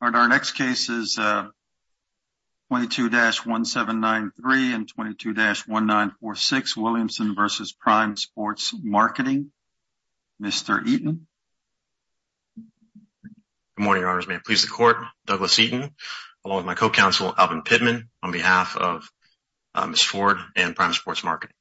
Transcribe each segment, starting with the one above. Our next case is 22-1793 and 22-1946 Williamson v. Prime Sports Marketing, Mr. Eaton. Good morning, Your Honors. May it please the Court, Douglas Eaton along with my co-counsel Alvin Pittman on behalf of Ms. Ford and Prime Sports Marketing.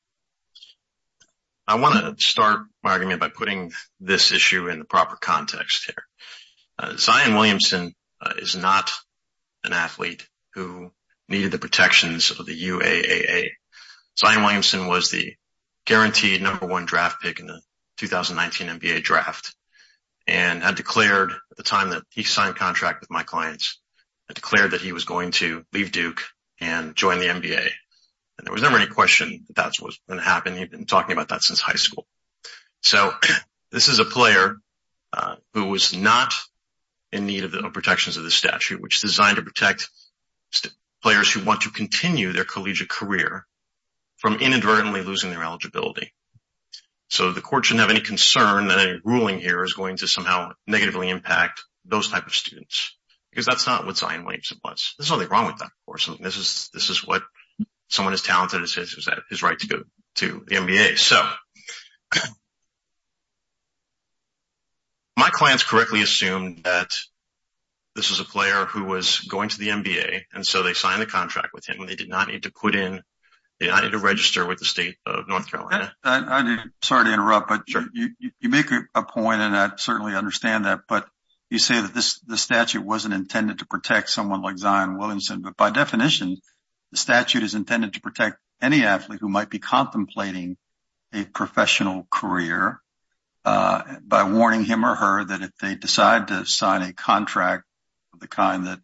I want to start my argument by putting this issue in the proper context here. Zion Williamson is not an athlete who needed the protections of the UAAA. Zion Williamson was the guaranteed number one draft pick in the 2019 NBA draft and had declared at the time that he signed a contract with my clients, had declared that he was going to leave Duke and join the NBA. And there was never any question that that's what's going to happen. He'd been talking about that since high school. So this is a player who was not in need of the protections of the statute, which is designed to protect players who want to continue their collegiate career from inadvertently losing their eligibility. So the Court shouldn't have any concern that any ruling here is going to somehow negatively impact those type of students because that's not what Zion Williamson was. There's his right to go to the NBA. So my clients correctly assumed that this is a player who was going to the NBA. And so they signed a contract with him and they did not need to put in, they did not need to register with the state of North Carolina. Sorry to interrupt, but you make a point and I certainly understand that. But you say that this statute wasn't intended to protect someone like Zion Williamson. But by definition, the statute is intended to protect any athlete who might be contemplating a professional career by warning him or her that if they decide to sign a contract of the kind that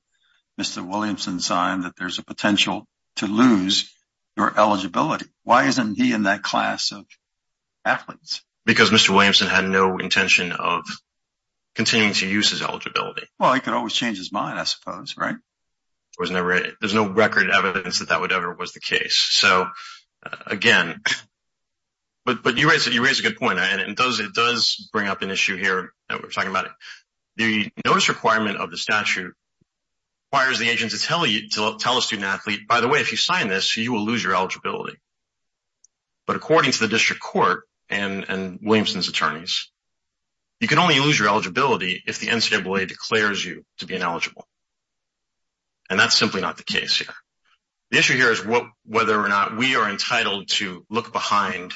Mr. Williamson signed, that there's a potential to lose your eligibility. Why isn't he in that class of athletes? Because Mr. Williamson had no intention of continuing to use his eligibility. Well, he could always change his mind, I suppose, right? There's no record evidence that that would ever was the case. So again, but you raised a good point and it does bring up an issue here that we're talking about. The notice requirement of the statute requires the agent to tell a student athlete, by the way, if you sign this, you will lose your eligibility. But according to the District Court and to be ineligible. And that's simply not the case here. The issue here is whether or not we are entitled to look behind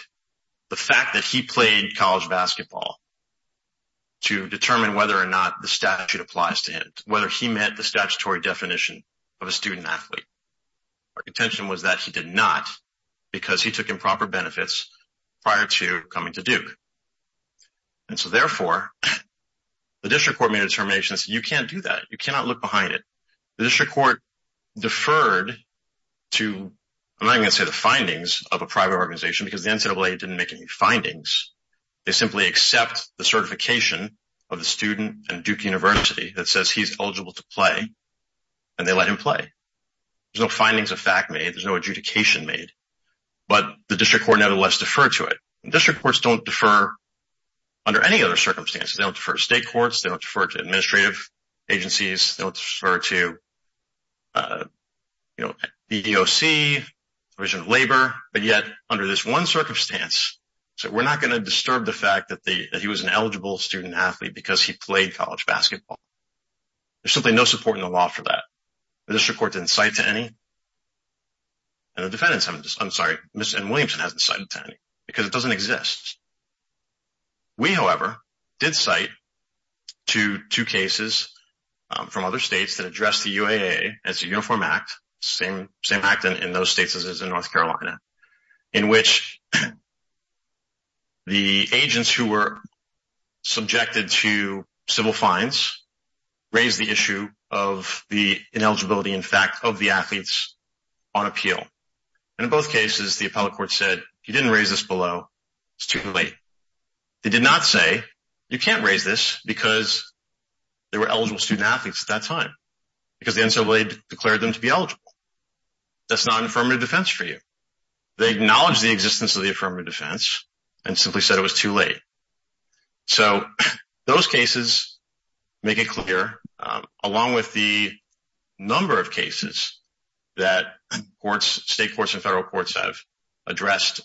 the fact that he played college basketball to determine whether or not the statute applies to him, whether he met the statutory definition of a student athlete. Our contention was that he did not because he took improper benefits prior to coming to Duke. And so therefore, the District Court made a determination, you can't do that, you cannot look behind it. The District Court deferred to, I'm not going to say the findings of a private organization because the NCAA didn't make any findings. They simply accept the certification of the student at Duke University that says he's eligible to play. And they let him play. There's no findings of fact made, there's no adjudication made. But the District Court nevertheless deferred to it. District Courts don't defer under any other circumstances. They don't defer to state courts, they don't defer to administrative agencies, they don't defer to, you know, the EEOC, Division of Labor. But yet, under this one circumstance, we're not going to disturb the fact that he was an eligible student athlete because he played college basketball. There's simply no support in the law for that. The District Court didn't cite to any. And the defendants haven't, I'm sorry, Ms. N. Williamson hasn't cited to any because it doesn't exist. We, however, did cite to two cases from other states that address the UAA as a uniform act, same act in those states as in North Carolina, in which the agents who were subjected to civil fines raised the issue of the ineligibility, in fact, of the athletes on appeal. And in both cases, the appellate court said, if you didn't raise this below, it's too late. They did not say, you can't raise this because they were eligible student athletes at that time, because the NCAA declared them to be eligible. That's not an affirmative defense for you. They acknowledged the existence of the affirmative defense and simply said it was too late. So those cases make it clear, along with the number of cases that courts, state courts and federal courts have addressed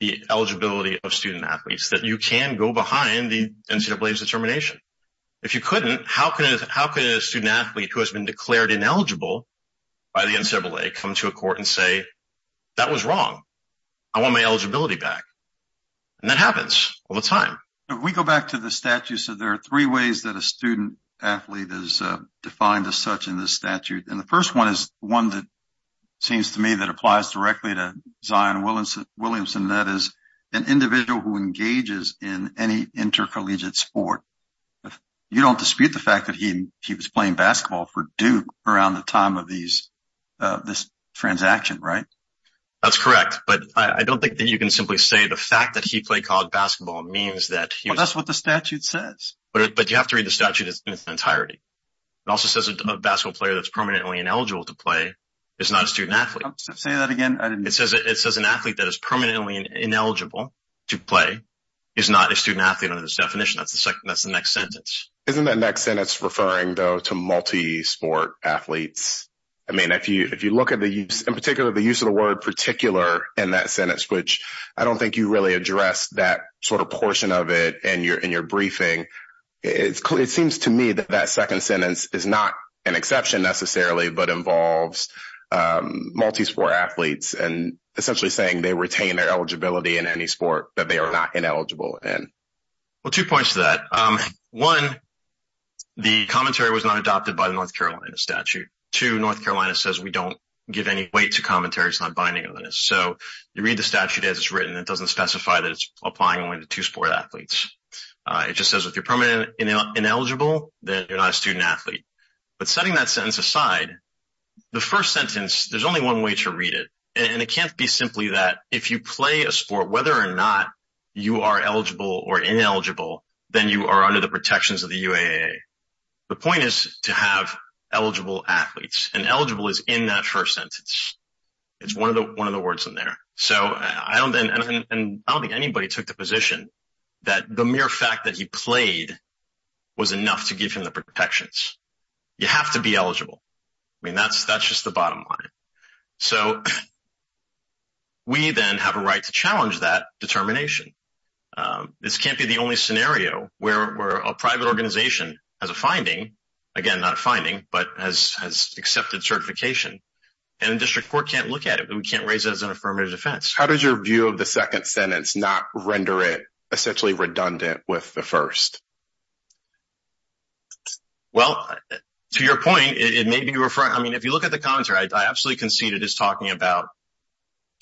the eligibility of student athletes, that you can go behind the NCAA's determination. If you couldn't, how can a student athlete who has been declared ineligible by the NCAA come to a court and say, that was wrong. I want my eligibility back. And that happens all the time. If we go back to the statute, so there are three ways that a student athlete is defined as such in this statute. And the first one is one that seems to me that applies directly to Zion Williamson, that is an individual who engages in any intercollegiate sport. You don't dispute the fact that he was playing basketball for Duke around the time of this transaction, right? That's correct. But I don't think that you can simply say the fact that he played college basketball means that... That's what the statute says. But you have to read the statute in its entirety. It also says a basketball player that's permanently ineligible to play is not a student athlete. Say that again. It says an athlete that is permanently ineligible to play is not a student athlete under this definition. That's the next sentence. Isn't that next sentence referring though to multi-sport athletes? I mean, if you look at the use, in particular, the use of the sort of portion of it in your briefing, it seems to me that that second sentence is not an exception necessarily, but involves multi-sport athletes and essentially saying they retain their eligibility in any sport that they are not ineligible in. Well, two points to that. One, the commentary was not adopted by the North Carolina statute. Two, North Carolina says we don't give any weight to commentary. It's not binding on this. So you read the statute as it's applying only to two-sport athletes. It just says if you're permanently ineligible, then you're not a student athlete. But setting that sentence aside, the first sentence, there's only one way to read it. And it can't be simply that if you play a sport, whether or not you are eligible or ineligible, then you are under the protections of the UAA. The point is to have eligible athletes. And eligible is in that first sentence. It's one of the words in there. So I don't think anybody took the position that the mere fact that he played was enough to give him the protections. You have to be eligible. I mean, that's just the bottom line. So we then have a right to challenge that determination. This can't be the only scenario where a private organization has a finding, again, not a finding, but has accepted certification. And the district court can't look at it. We can't raise it as an affirmative defense. How does your view of the second sentence not render it essentially redundant with the first? Well, to your point, it may be referring, I mean, if you look at the commentary, I absolutely concede it is talking about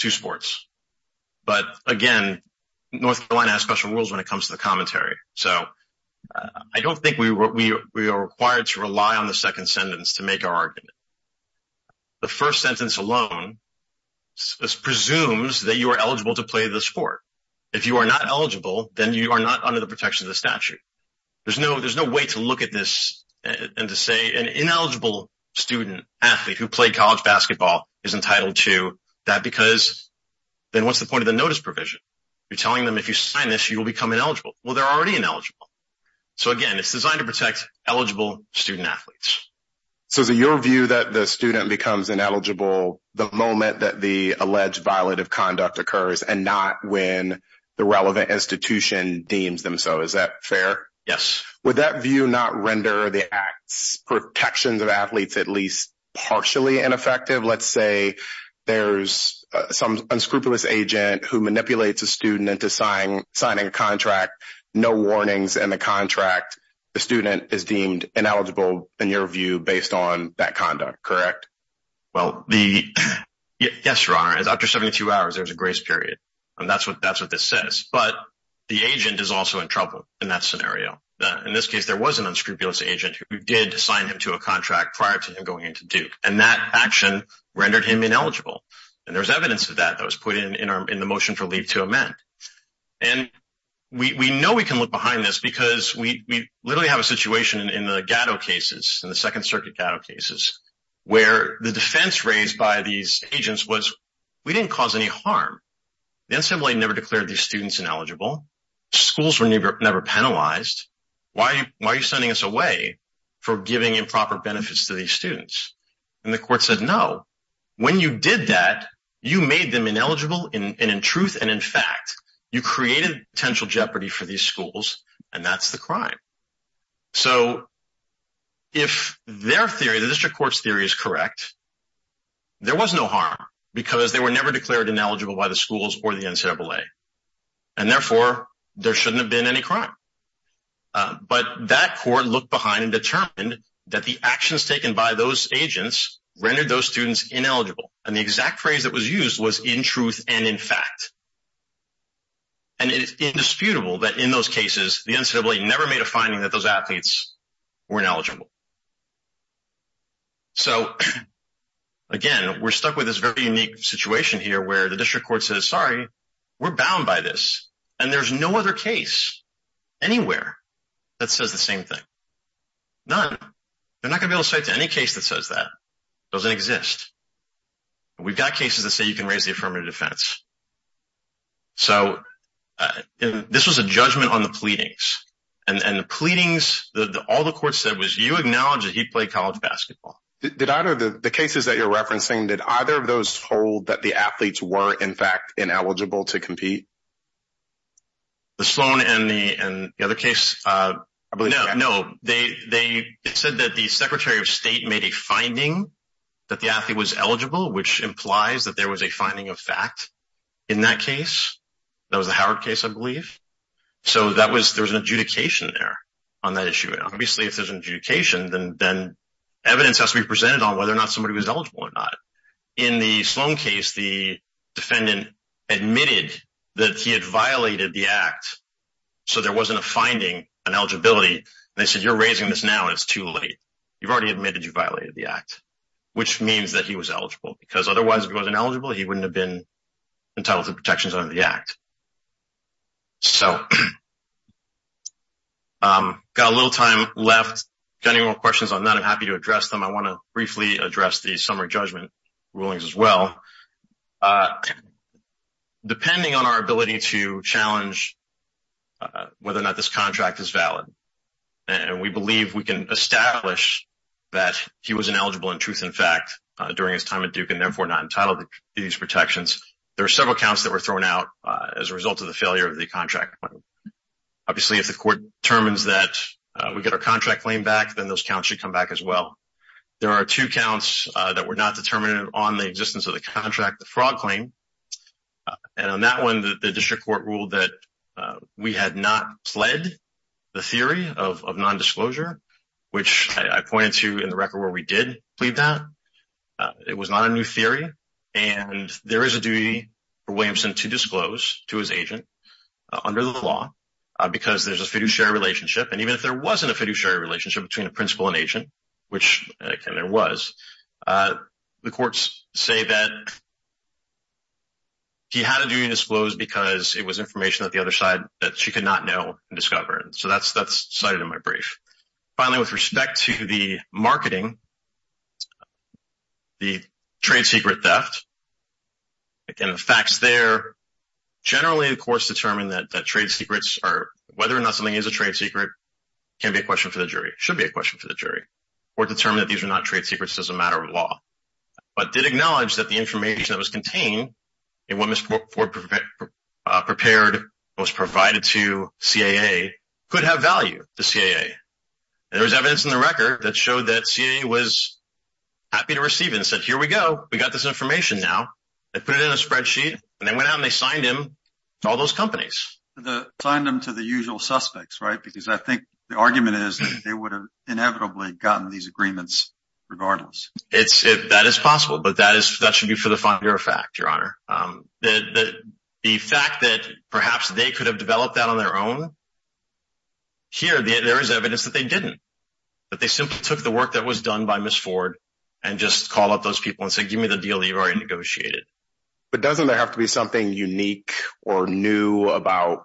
two sports. But again, North Carolina has special rules when it comes to the commentary. So I don't think we are required to rely on the second sentence to make our argument. The first sentence alone presumes that you are eligible to play the sport. If you are not eligible, then you are not under the protection of the statute. There's no way to look at this and to say an ineligible student athlete who played college basketball is entitled to that because then what's the point of the notice provision? You're telling them if you sign this, you will become ineligible. Well, they're already ineligible. So again, it's designed to protect eligible student athletes. So is it your view that the student becomes ineligible the moment that the alleged violative conduct occurs and not when the relevant institution deems them so? Is that fair? Yes. Would that view not render the act's protections of athletes at least partially ineffective? Let's say there's some unscrupulous agent who manipulates a student into signing a contract. No warnings in the contract. The student is deemed ineligible in your view based on that conduct, correct? Well, yes, Your Honor. After 72 hours, there's a grace period. And that's what this says. But the agent is also in trouble in that scenario. In this case, there was an unscrupulous agent who did sign him to a contract prior to him going into Duke. And that action rendered him ineligible. And there's evidence of that that was put in the motion for leave to amend. And we know we can look behind this because we literally have a situation in the Gatto cases, in the Second Circuit Gatto cases, where the defense raised by these agents was we didn't cause any harm. The assembly never declared these students ineligible. Schools were never penalized. Why are you sending us away for giving improper benefits to these students? And the court said no. When you did that, you made them ineligible and in truth and in fact, you created potential jeopardy for these schools. And that's the crime. So if their theory, the district court's theory is correct, there was no harm because they were never declared ineligible by the schools or the NCAA. And therefore, there shouldn't have been any crime. But that court looked behind and determined that the actions taken by those were ineligible and in fact. And it is indisputable that in those cases, the NCAA never made a finding that those athletes were ineligible. So again, we're stuck with this very unique situation here where the district court says, sorry, we're bound by this. And there's no other case anywhere that says the same thing. None. They're not gonna be able to cite to any case that says that. Doesn't exist. We've got cases that say you can raise the affirmative defense. So this was a judgment on the pleadings and the pleadings that all the court said was you acknowledge that he played college basketball. Did either of the cases that you're referencing, did either of those hold that the athletes were in fact ineligible to compete? The Sloan and the other case. No, they said that the Secretary of State made a finding that the athlete was eligible, which implies that there was a finding of fact in that case. That was the Howard case, I believe. So there's an adjudication there on that issue. And obviously, if there's an adjudication, then evidence has to be presented on whether or not somebody was eligible or not. In the Sloan case, the defendant admitted that he had violated the act. So there wasn't a finding on eligibility. And they said, you're raising this now and it's too late. You've already admitted you violated the act, which means that he was eligible. Because otherwise, if he wasn't eligible, he wouldn't have been entitled to protections under the act. So got a little time left. If you have any more questions on that, I'm happy to address them. I want to briefly address the summary judgment rulings as well. Depending on our establish that he was ineligible in truth and fact during his time at Duke and therefore not entitled to these protections, there are several counts that were thrown out as a result of the failure of the contract. Obviously, if the court determines that we get our contract claim back, then those counts should come back as well. There are two counts that were not determined on the existence of the contract, the fraud claim. And on that one, the district court ruled that we had not pled the theory of non-disclosure, which I pointed to in the record where we did plead that. It was not a new theory. And there is a duty for Williamson to disclose to his agent under the law because there's a fiduciary relationship. And even if there wasn't a fiduciary relationship between the principal and agent, which there was, the courts say that he had a duty to disclose because it was information that the other side that she could not know and discover. So that's cited in my brief. Finally, with respect to the marketing, the trade secret theft, again, the facts there generally, of course, determine that trade secrets are, whether or not something is a trade secret, can be a question for the jury, should be a question for the jury, or determine that these are not trade secrets as a matter of fact. So, I think the argument is that they would have inevitably gotten these agreements regardless. That is possible, but that should be for the finer of fact, Your Honor. The fact that perhaps they could have developed that on their own, here, there is evidence that they didn't. That they simply took the work that was done by Ms. Ford and just called up those people and said, give me the deal that you've already negotiated. But doesn't there have to be something unique or new about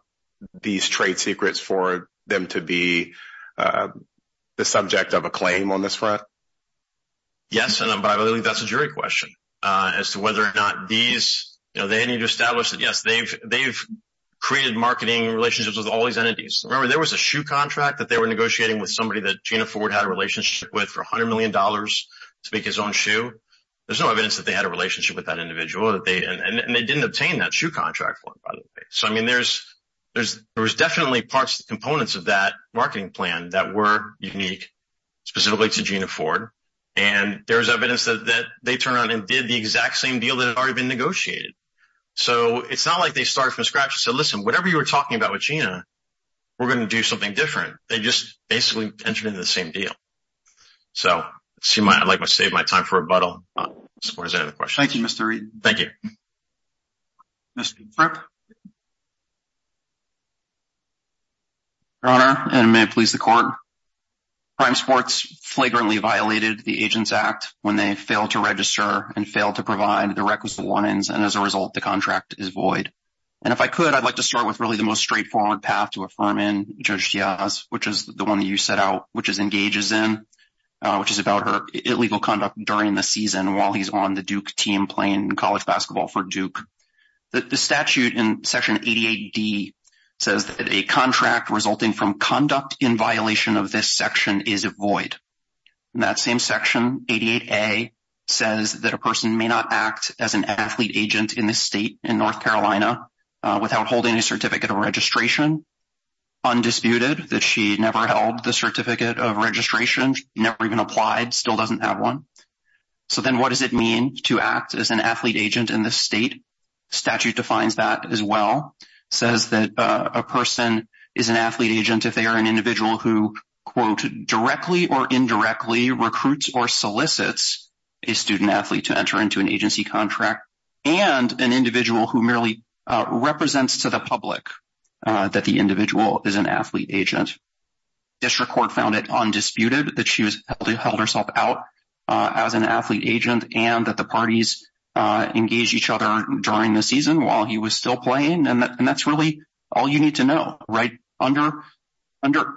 these trade secrets for them to be the subject of a claim on this front? Yes, and by the way, that's a jury question as to whether or not these, you know, they need to establish that, yes, they've created marketing relationships with all these entities. Remember, there was a shoe contract that they were negotiating with somebody that Gina Ford had a relationship with for $100 million to make his own shoe. There's no evidence that they had a relationship with that individual that they, and they didn't obtain that shoe contract for, by the way. So, I mean, there's definitely parts, components of that were unique, specifically to Gina Ford, and there's evidence that they turned around and did the exact same deal that had already been negotiated. So, it's not like they started from scratch and said, listen, whatever you were talking about with Gina, we're going to do something different. They just basically entered into the same deal. So, I'd like to save my time for rebuttal as far as any other questions. Thank you, Mr. Reid. Thank you. Mr. Kripp. Your Honor, and may it please the Court. Prime Sports flagrantly violated the Agents Act when they failed to register and failed to provide the requisite want-ins, and as a result, the contract is void. And if I could, I'd like to start with really the most straightforward path to affirm in Judge Diaz, which is the one that you set out, which is engages in, which is about her illegal conduct during the season while he's on the Duke team playing college basketball for Duke. The statute in Section 88D says that a contract resulting from conduct in violation of this section is a void. And that same Section 88A says that a person may not act as an athlete agent in the state in North Carolina without holding a certificate of registration, undisputed, that she never held the certificate of registration, never even applied, still doesn't have one. So then what does it mean to act as an athlete agent in the state? Statute defines that as well, says that a person is an athlete agent if they are an individual who, quote, directly or indirectly recruits or solicits a student athlete to enter into an agency contract and an individual who merely represents to the public that the individual is an athlete agent. District Court found it undisputed that she held herself out as an athlete agent and that the parties engaged each other during the season while he was still playing. And that's really all you need to know, right? Under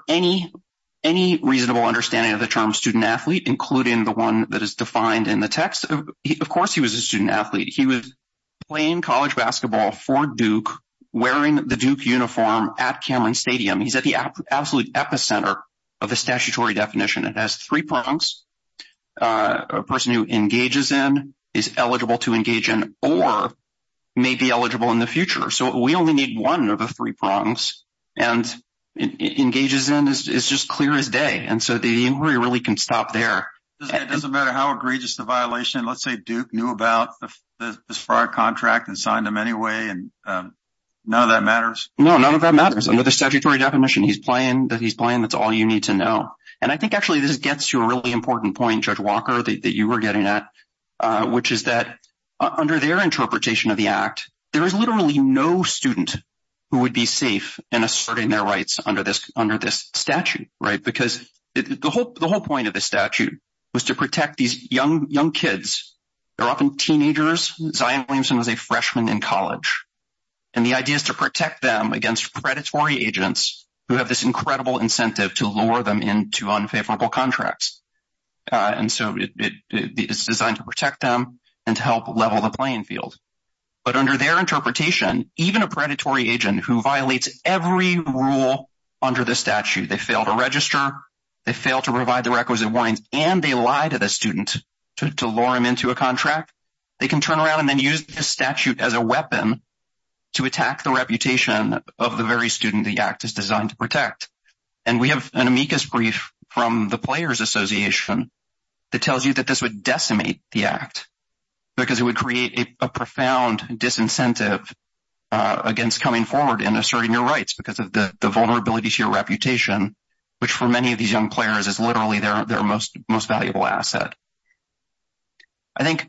any reasonable understanding of the term student-athlete, including the one that is defined in the text, of course he was a student-athlete. He was playing basketball for Duke wearing the Duke uniform at Cameron Stadium. He's at the absolute epicenter of the statutory definition. It has three prongs. A person who engages in is eligible to engage in or may be eligible in the future. So we only need one of the three prongs and engages in is just clear as day. And so the inquiry really can stop there. It doesn't matter how egregious the anyway. And none of that matters. No, none of that matters. Under the statutory definition, he's playing. He's playing. That's all you need to know. And I think actually this gets to a really important point, Judge Walker, that you were getting at, which is that under their interpretation of the act, there is literally no student who would be safe in asserting their rights under this statute, right? Because the whole point of the statute was to protect these young kids. They're often teenagers. Zion Williamson was a freshman in college. And the idea is to protect them against predatory agents who have this incredible incentive to lure them into unfavorable contracts. And so it is designed to protect them and to help level the playing field. But under their interpretation, even a predatory agent who violates every rule under the statute, they fail to register, they fail to provide the requisite warnings, and they lie to the student to lure them into a contract. They can turn around and then use this statute as a weapon to attack the reputation of the very student the act is designed to protect. And we have an amicus brief from the Players Association that tells you that this would decimate the act because it would create a profound disincentive against coming forward and asserting your rights because of the vulnerability to your reputation, which for many of these young players is literally their most valuable asset. I think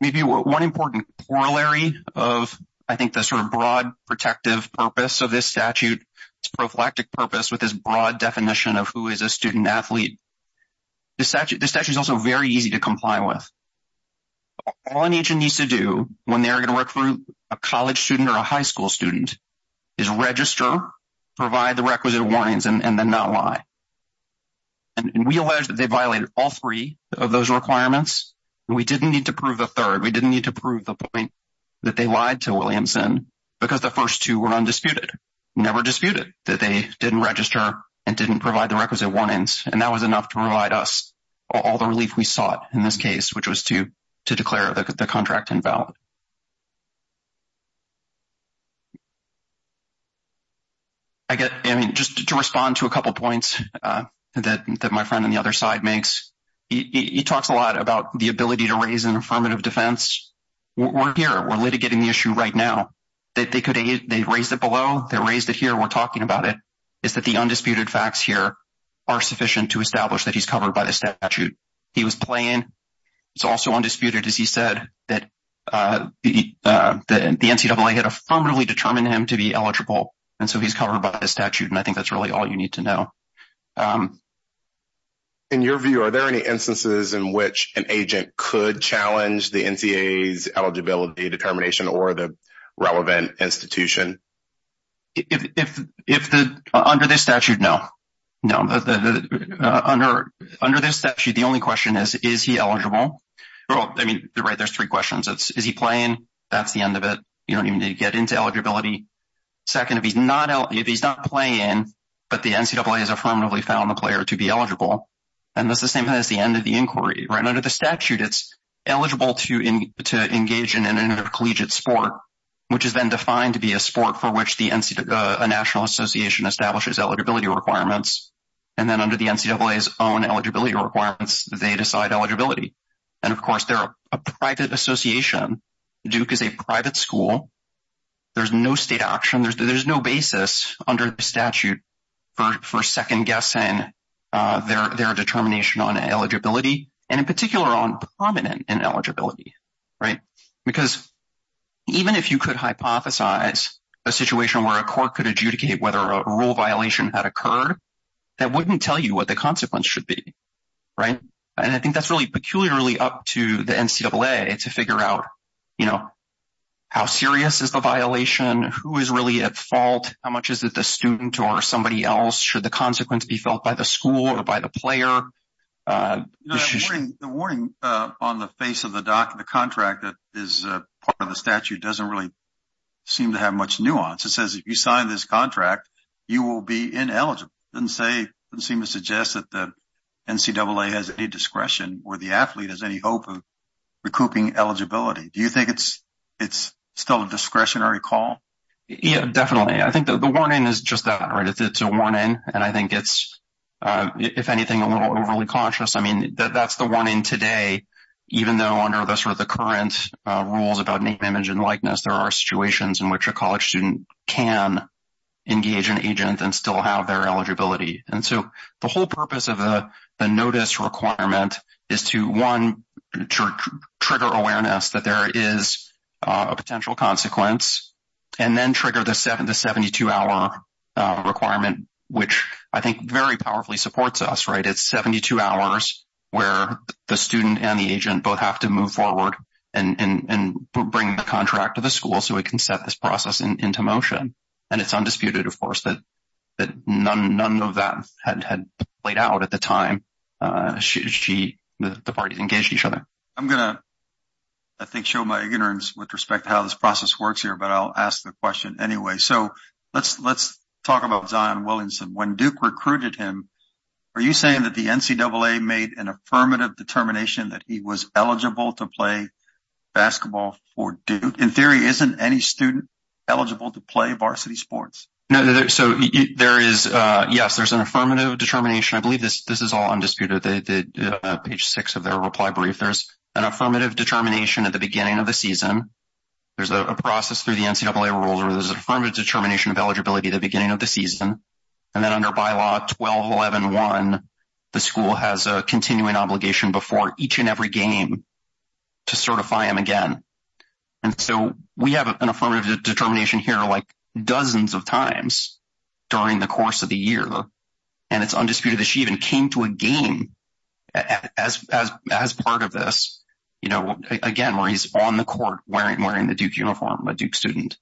maybe one important corollary of I think the sort of broad protective purpose of this statute, its prophylactic purpose with this broad definition of who is a student athlete, this statute is also very easy to comply with. All an agent needs to do when they are going to work for a college student or a high school student is register, provide the requisite warnings, and then not lie. And we allege that they violated all three of those requirements, and we didn't need to prove a third. We didn't need to prove the point that they lied to Williamson because the first two were undisputed, never disputed, that they didn't register and didn't provide the requisite warnings. And that was enough to provide us all the relief we sought in this case, which was to declare the contract invalid. I mean, just to respond to a couple of points that my friend on the other side makes, he talks a lot about the ability to raise an affirmative defense. We're here, we're litigating the issue right now. They raised it below, they raised it here, we're talking about it, is that the undisputed facts here are sufficient to establish that he's covered by the statute. He was playing. It's also undisputed, as he said, that the NCAA had affirmatively determined him to be covered by the statute, and I think that's really all you need to know. In your view, are there any instances in which an agent could challenge the NCAA's eligibility determination or the relevant institution? Under this statute, no. No. Under this statute, the only question is, is he eligible? I mean, there's three questions. Is he playing? That's the end of it. You don't even need to get into eligibility. Second, if he's not playing, but the NCAA has affirmatively found the player to be eligible, then that's the same as the end of the inquiry, right? Under the statute, it's eligible to engage in an intercollegiate sport, which is then defined to be a sport for which a national association establishes eligibility requirements, and then under the NCAA's own eligibility requirements, they decide eligibility. And of course, they're a private association. Duke is a private school. There's no state option. There's no basis under the statute for second-guessing their determination on eligibility, and in particular, on prominent ineligibility, right? Because even if you could hypothesize a situation where a court could adjudicate whether a rule violation had occurred, that wouldn't tell you what the consequence should be, right? And I think that's really peculiarly up to the NCAA to figure out, you know, how serious is the violation? Who is really at fault? How much is it the student or somebody else? Should the consequence be felt by the school or by the player? The warning on the face of the contract that is part of the statute doesn't really seem to have much nuance. It says, if you sign this contract, you will be ineligible. It doesn't seem to suggest that the NCAA has any discretion or the athlete has any hope of recouping eligibility. Do you think it's still a discretionary call? Yeah, definitely. I think the warning is just that, right? It's a warning, and I think it's, if anything, a little overly conscious. I mean, that's the warning today, even though under the sort of current rules about name, image, and likeness, there are situations in which a college student can engage an agent and still have their eligibility. And so the whole purpose of the notice requirement is to, one, trigger awareness that there is a potential consequence, and then trigger the 72-hour requirement, which I think very powerfully supports us, right? It's 72 hours where the student and the agent both have to move forward and bring the contract to the school so we can set this process into motion. And it's undisputed, of course, that none of that had played out at the time the parties engaged each other. I'm going to, I think, show my ignorance with respect to how this process works here, but I'll ask the question anyway. So let's talk about Zion Williamson. When Duke recruited him, are you saying that the NCAA made an affirmative determination that he was eligible to play basketball for Duke? In theory, isn't any student eligible to play varsity sports? No, so there is, yes, there's an affirmative determination. I believe this is all undisputed, page six of their reply brief. There's an affirmative determination at the beginning of the season. There's a process through the NCAA rules where there's an affirmative determination of eligibility at the beginning of the season. And then under Bylaw 12111, the school has a continuing obligation before each and every game to certify him again. And so we have an affirmative determination here, like, dozens of times during the course of the year. And it's undisputed that she even came to a game as part of this, you know, again, where he's on the court wearing the Duke uniform, a Duke student.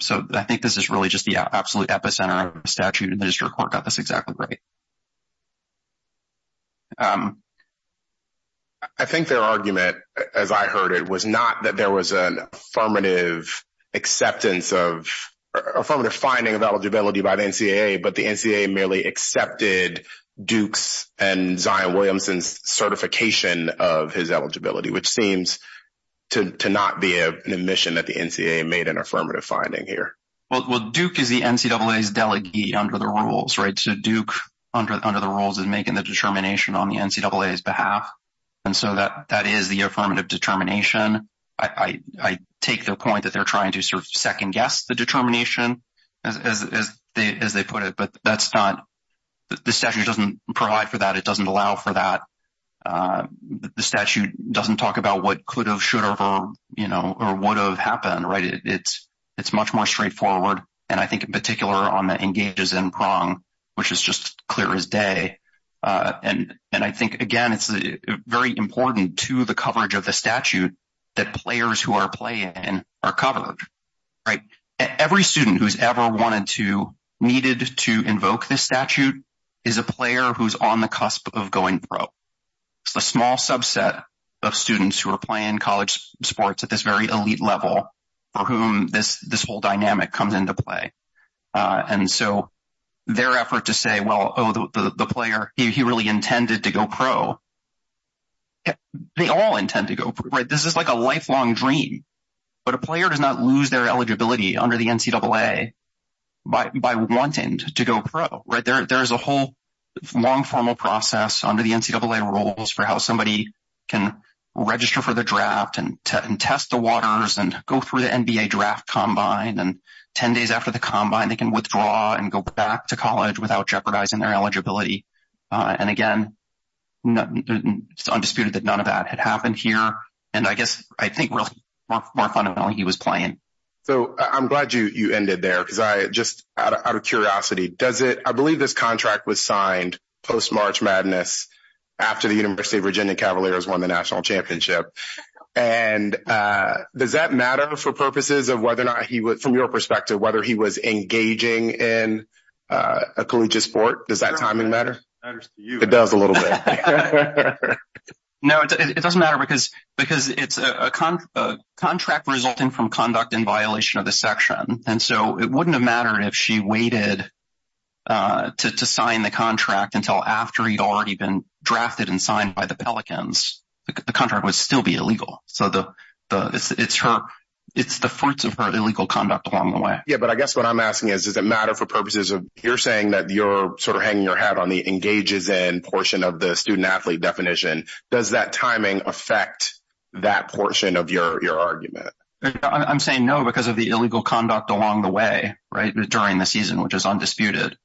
So I think this is really just the absolute epicenter of a statute, and the district court got this exactly right. I think their argument, as I heard it, was not that there was an affirmative finding of eligibility by the NCAA, but the NCAA merely accepted Duke's and Zion Williamson's certification of his eligibility, which seems to not be an admission that the NCAA made an affirmative finding here. Well, Duke is the NCAA's delegate under the rules, right? So Duke, under the rules, is making the determination on the NCAA's behalf. And so that is the affirmative determination. I take their point that they're trying to sort of second guess the determination, as they put it, but that's not, the statute doesn't provide for that. It doesn't allow for that. The statute doesn't talk about what could have, should have, or, you know, or would have happened, right? It's much more straightforward, and I think in particular on the engages in prong, which is just clear as day. And I think, again, it's very important to the coverage of the statute that players who are playing are covered, right? Every student who's wanted to, needed to invoke this statute is a player who's on the cusp of going pro. It's a small subset of students who are playing college sports at this very elite level for whom this whole dynamic comes into play. And so their effort to say, well, oh, the player, he really intended to go pro. They all intend to go pro, right? This is like a lifelong dream, but a player does not lose their eligibility under the NCAA by wanting to go pro, right? There is a whole long formal process under the NCAA rules for how somebody can register for the draft and test the waters and go through the NBA draft combine, and 10 days after the combine, they can withdraw and go back to college without jeopardizing their eligibility. And again, it's undisputed that none of that had happened here. And I guess I think really more fundamentally, he was playing. So I'm glad you ended there because I just out of curiosity, does it, I believe this contract was signed post-March Madness after the University of Virginia Cavaliers won the national championship. And does that matter for purposes of whether or not he would, from your perspective, whether he was engaging in a collegiate sport? Does that timing matter? It does a little bit. No, it doesn't matter because it's a contract resulting from conduct in violation of the section. And so it wouldn't have mattered if she waited to sign the contract until after he'd already been drafted and signed by the Pelicans. The contract would still be illegal. So it's the fruits of her illegal conduct along the way. Yeah, but I guess what I'm asking is, does it matter for purposes of you're saying that you're sort of hanging your hat on the engages in portion of student athlete definition? Does that timing affect that portion of your argument? I'm saying no, because of the illegal conduct along the way, right during the season, which is undisputed.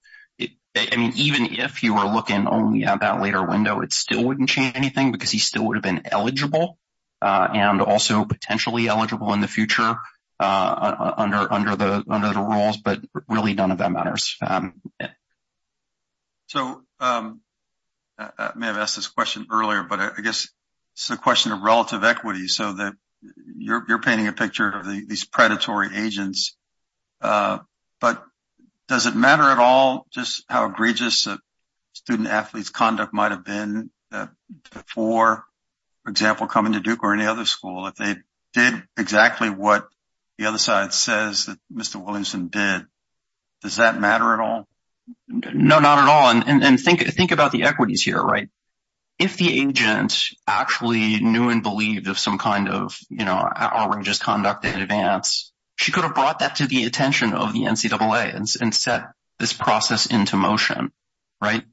I mean, even if you were looking only at that later window, it still wouldn't change anything because he still would have been eligible and also potentially eligible in the future under the rules, but really none of that matters. So I may have asked this question earlier, but I guess it's a question of relative equity. So you're painting a picture of these predatory agents, but does it matter at all just how egregious a student athlete's conduct might have been before, for example, coming to Duke or any other school, if they did exactly what the other side says that Mr. Williamson did, does that matter at all? No, not at all. And think about the equities here, right? If the agent actually knew and believed of some kind of outrageous conduct in advance, she could have brought that to the attention of the NCAA and set this process into motion, right?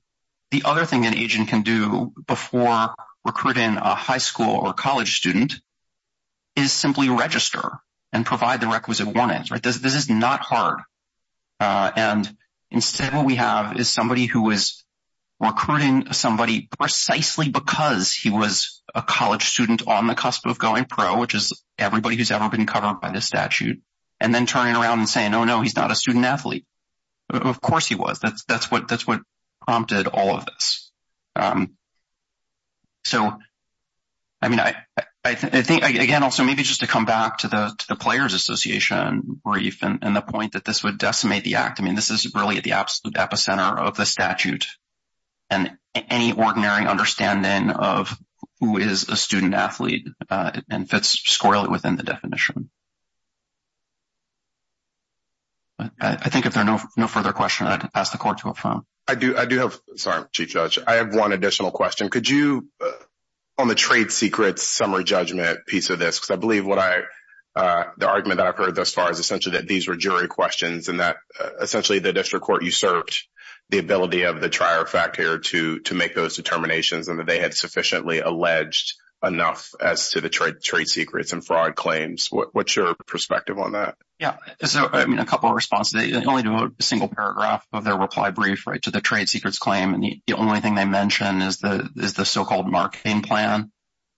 The other thing an agent can do before recruiting a high school or college student is simply register and provide the requisite warnings, right? This is not hard. And instead, what we have is somebody who was recruiting somebody precisely because he was a college student on the cusp of going pro, which is everybody who's ever been covered by this statute, and then turning around and saying, oh, no, he's not a student athlete. Of course he was. That's what prompted all of this. So, I mean, I think, again, also maybe just to come back to the Players Association brief and the point that this would decimate the act. I mean, this is really at the absolute epicenter of the statute and any ordinary understanding of who is a student athlete and fits squarely within the definition. I think if there are no further questions, ask the court to affirm. I do. I do have. Sorry, Chief Judge. I have one additional question. Could you, on the trade secrets summary judgment piece of this, because I believe what I, the argument that I've heard thus far is essentially that these were jury questions and that essentially the district court usurped the ability of the trier fact here to make those determinations and that they had sufficiently alleged enough as to the trade secrets and fraud claims. What's your perspective on that? Yeah. So, I mean, a couple of responses, only to a single paragraph of their reply brief, right, to the trade secrets claim. And the only thing they mention is the so-called marketing plan.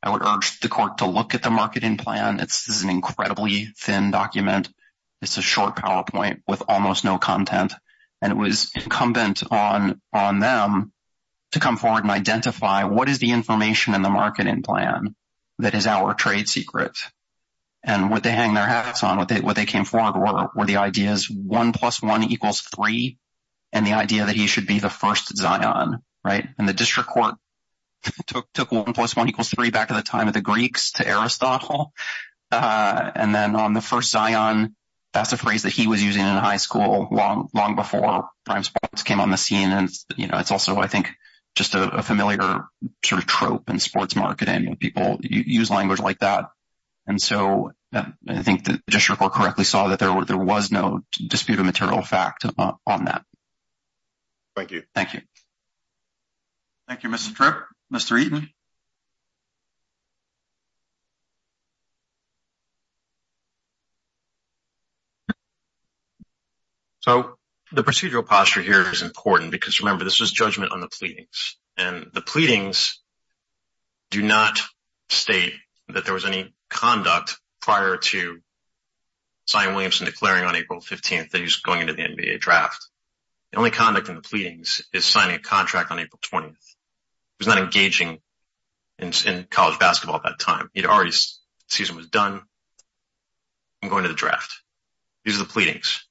I would urge the court to look at the marketing plan. This is an incredibly thin document. It's a short PowerPoint with almost no content. And it was incumbent on them to come forward and identify what is the information in the marketing plan that is our trade secret. And what they hang their hats on, what they came forward were the ideas one plus one equals three and the idea that he should be the first Zion, right? And the district court took one plus one equals three back at the time of the Greeks to Aristotle. And then on the first Zion, that's a phrase that he was using in high school long before prime sports came on the scene. And, you know, it's also, I think, just a familiar sort of trope in sports marketing. People use language like that. And so I think the district court correctly saw that there was no disputed material fact on that. Thank you. Thank you. Thank you, Mr. Tripp. Mr. Eaton. So the procedural posture here is important because, remember, this was judgment on the Zion Williamson declaring on April 15th that he was going into the NBA draft. The only conduct in the pleadings is signing a contract on April 20th. He was not engaging in college basketball at that time. The season was done. I'm going to the draft. These are the pleadings.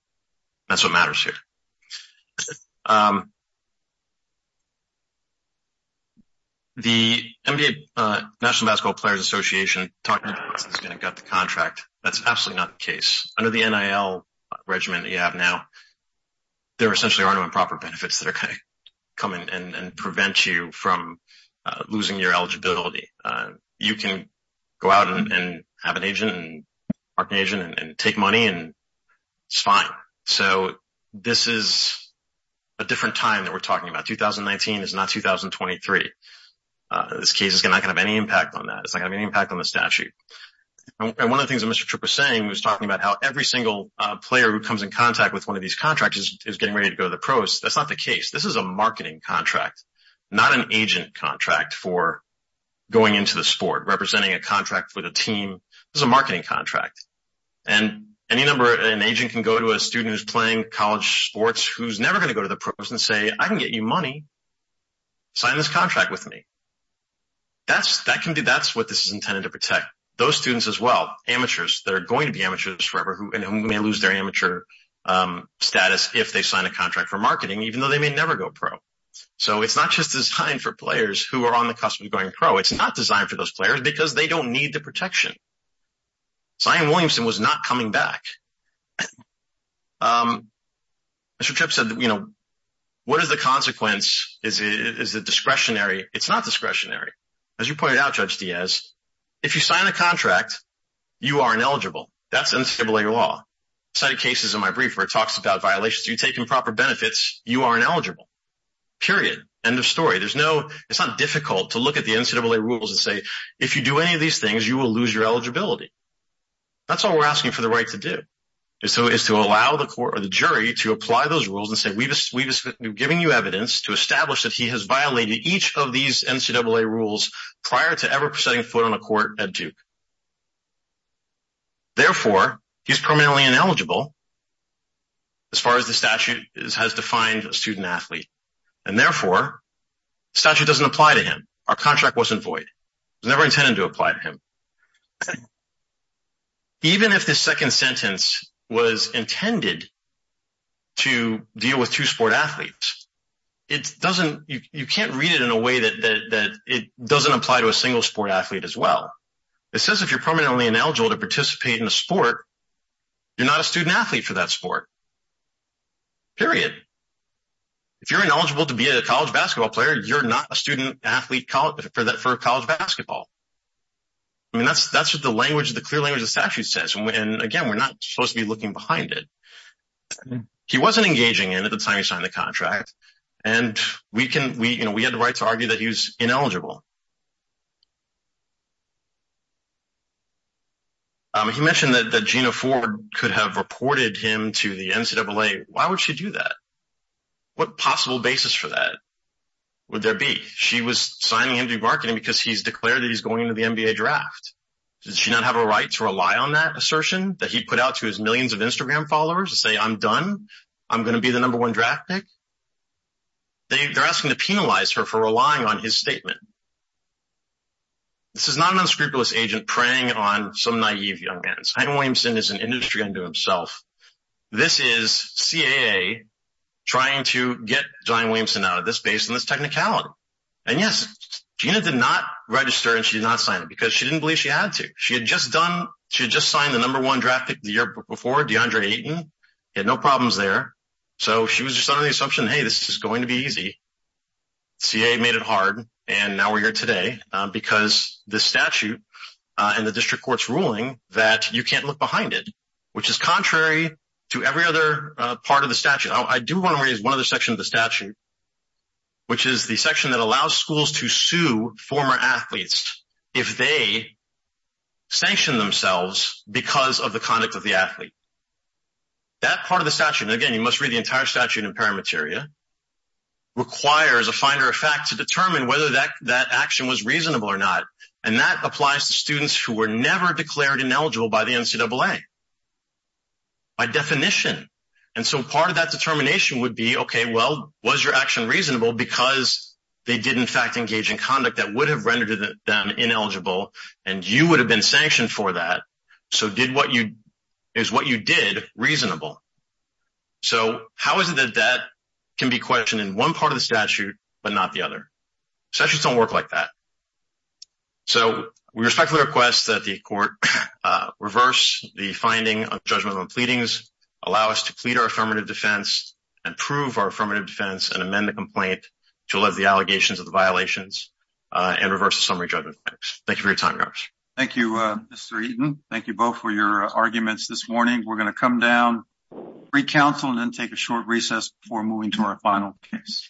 That's what matters here. The NBA National Basketball Players Association talked about this and got the contract. That's absolutely not the case. Under the NIL regimen that you have now, there essentially are no improper benefits that are going to come in and prevent you from losing your eligibility. You can go out and have an agent and take money, and it's fine. So this is a different time that we're talking about. 2019 is not 2023. This case is not going to have any impact on that. It's talking about how every single player who comes in contact with one of these contracts is getting ready to go to the pros. That's not the case. This is a marketing contract, not an agent contract for going into the sport, representing a contract with a team. This is a marketing contract. Any number of agents can go to a student who's playing college sports who's never going to go to the pros and say, I can get you money. Sign this contract with me. That's what this is intended to protect. Those students as well, amateurs, they're going to be amateurs forever, and they may lose their amateur status if they sign a contract for marketing, even though they may never go pro. So it's not just designed for players who are on the cusp of going pro. It's not designed for those players because they don't need the protection. Zion Williamson was not coming back. Mr. Tripp said, what is the consequence? Is it discretionary? It's not discretionary. As you pointed out, Judge Diaz, if you sign a contract, you are ineligible. That's NCAA law. Cited cases in my brief where it talks about violations. If you take improper benefits, you are ineligible. Period. End of story. It's not difficult to look at the NCAA rules and say, if you do any of these things, you will lose your eligibility. That's all we're asking for the right to do, is to allow the court or the jury to apply those rules and say, we've given you evidence to establish that he has violated each of these NCAA rules prior to ever setting foot on a court at Duke. Therefore, he's permanently ineligible as far as the statute has defined a student athlete. And therefore, the statute doesn't apply to him. Our contract wasn't void. It was never intended to apply to him. So, even if the second sentence was intended to deal with two sport athletes, it doesn't, you can't read it in a way that it doesn't apply to a single sport athlete as well. It says if you're permanently ineligible to participate in a sport, you're not a student athlete for that sport. Period. If you're ineligible to be a college basketball player, you're not a student athlete for college basketball. I mean, that's what the language, the clear language of the statute says. And again, we're not supposed to be looking behind it. He wasn't engaging in it at the time he signed the contract. And we had the right to argue that he was ineligible. He mentioned that Gina Ford could have reported him to the NCAA. Why would she do that? What possible basis for that would there be? She was signing into marketing because he's declared that he's going into the NBA draft. Did she not have a right to rely on that assertion that he put out to his millions of Instagram followers to say, I'm done. I'm going to be the number one draft pick. They're asking to penalize her for relying on his statement. This is not an unscrupulous agent preying on some naive young man. Williamson is an industry unto himself. This is CAA trying to get John Williamson out of this base and this technicality. And yes, Gina did not register and she did not sign it because she didn't believe she had to. She had just signed the number one draft pick the year before, DeAndre Ayton. He had no problems there. So she was just under the assumption, hey, this is going to be easy. CAA made it hard. And now we're here today because the statute and the district court's ruling that you can't look behind it, which is contrary to every other part of the statute. I do want to raise one other section of the statute, which is the section that allows schools to sue former athletes if they sanction themselves because of the conduct of the athlete. That part of the statute, and again, you must read the entire statute in Parameteria, requires a finder of fact to determine whether that action was reasonable or not. And that applies to students who were never declared ineligible by the NCAA by definition. And so part of that determination would be, okay, well, was your action reasonable because they did in fact engage in conduct that would have rendered them ineligible and you would have been sanctioned for that. So is what you did reasonable? So how is it that that can be questioned in one part of the statute, but not the other? Statutes don't work like that. So we respectfully request that the court reverse the finding of judgment on pleadings, allow us to plead our affirmative defense and prove our affirmative defense and amend the complaint to allege the allegations of the violations and reverse the summary judgment. Thank you for your time, Garth. Thank you, Mr. Eaton. Thank you both for your arguments this morning. We're going to come down, re-counsel and then take a short recess before moving to our final case.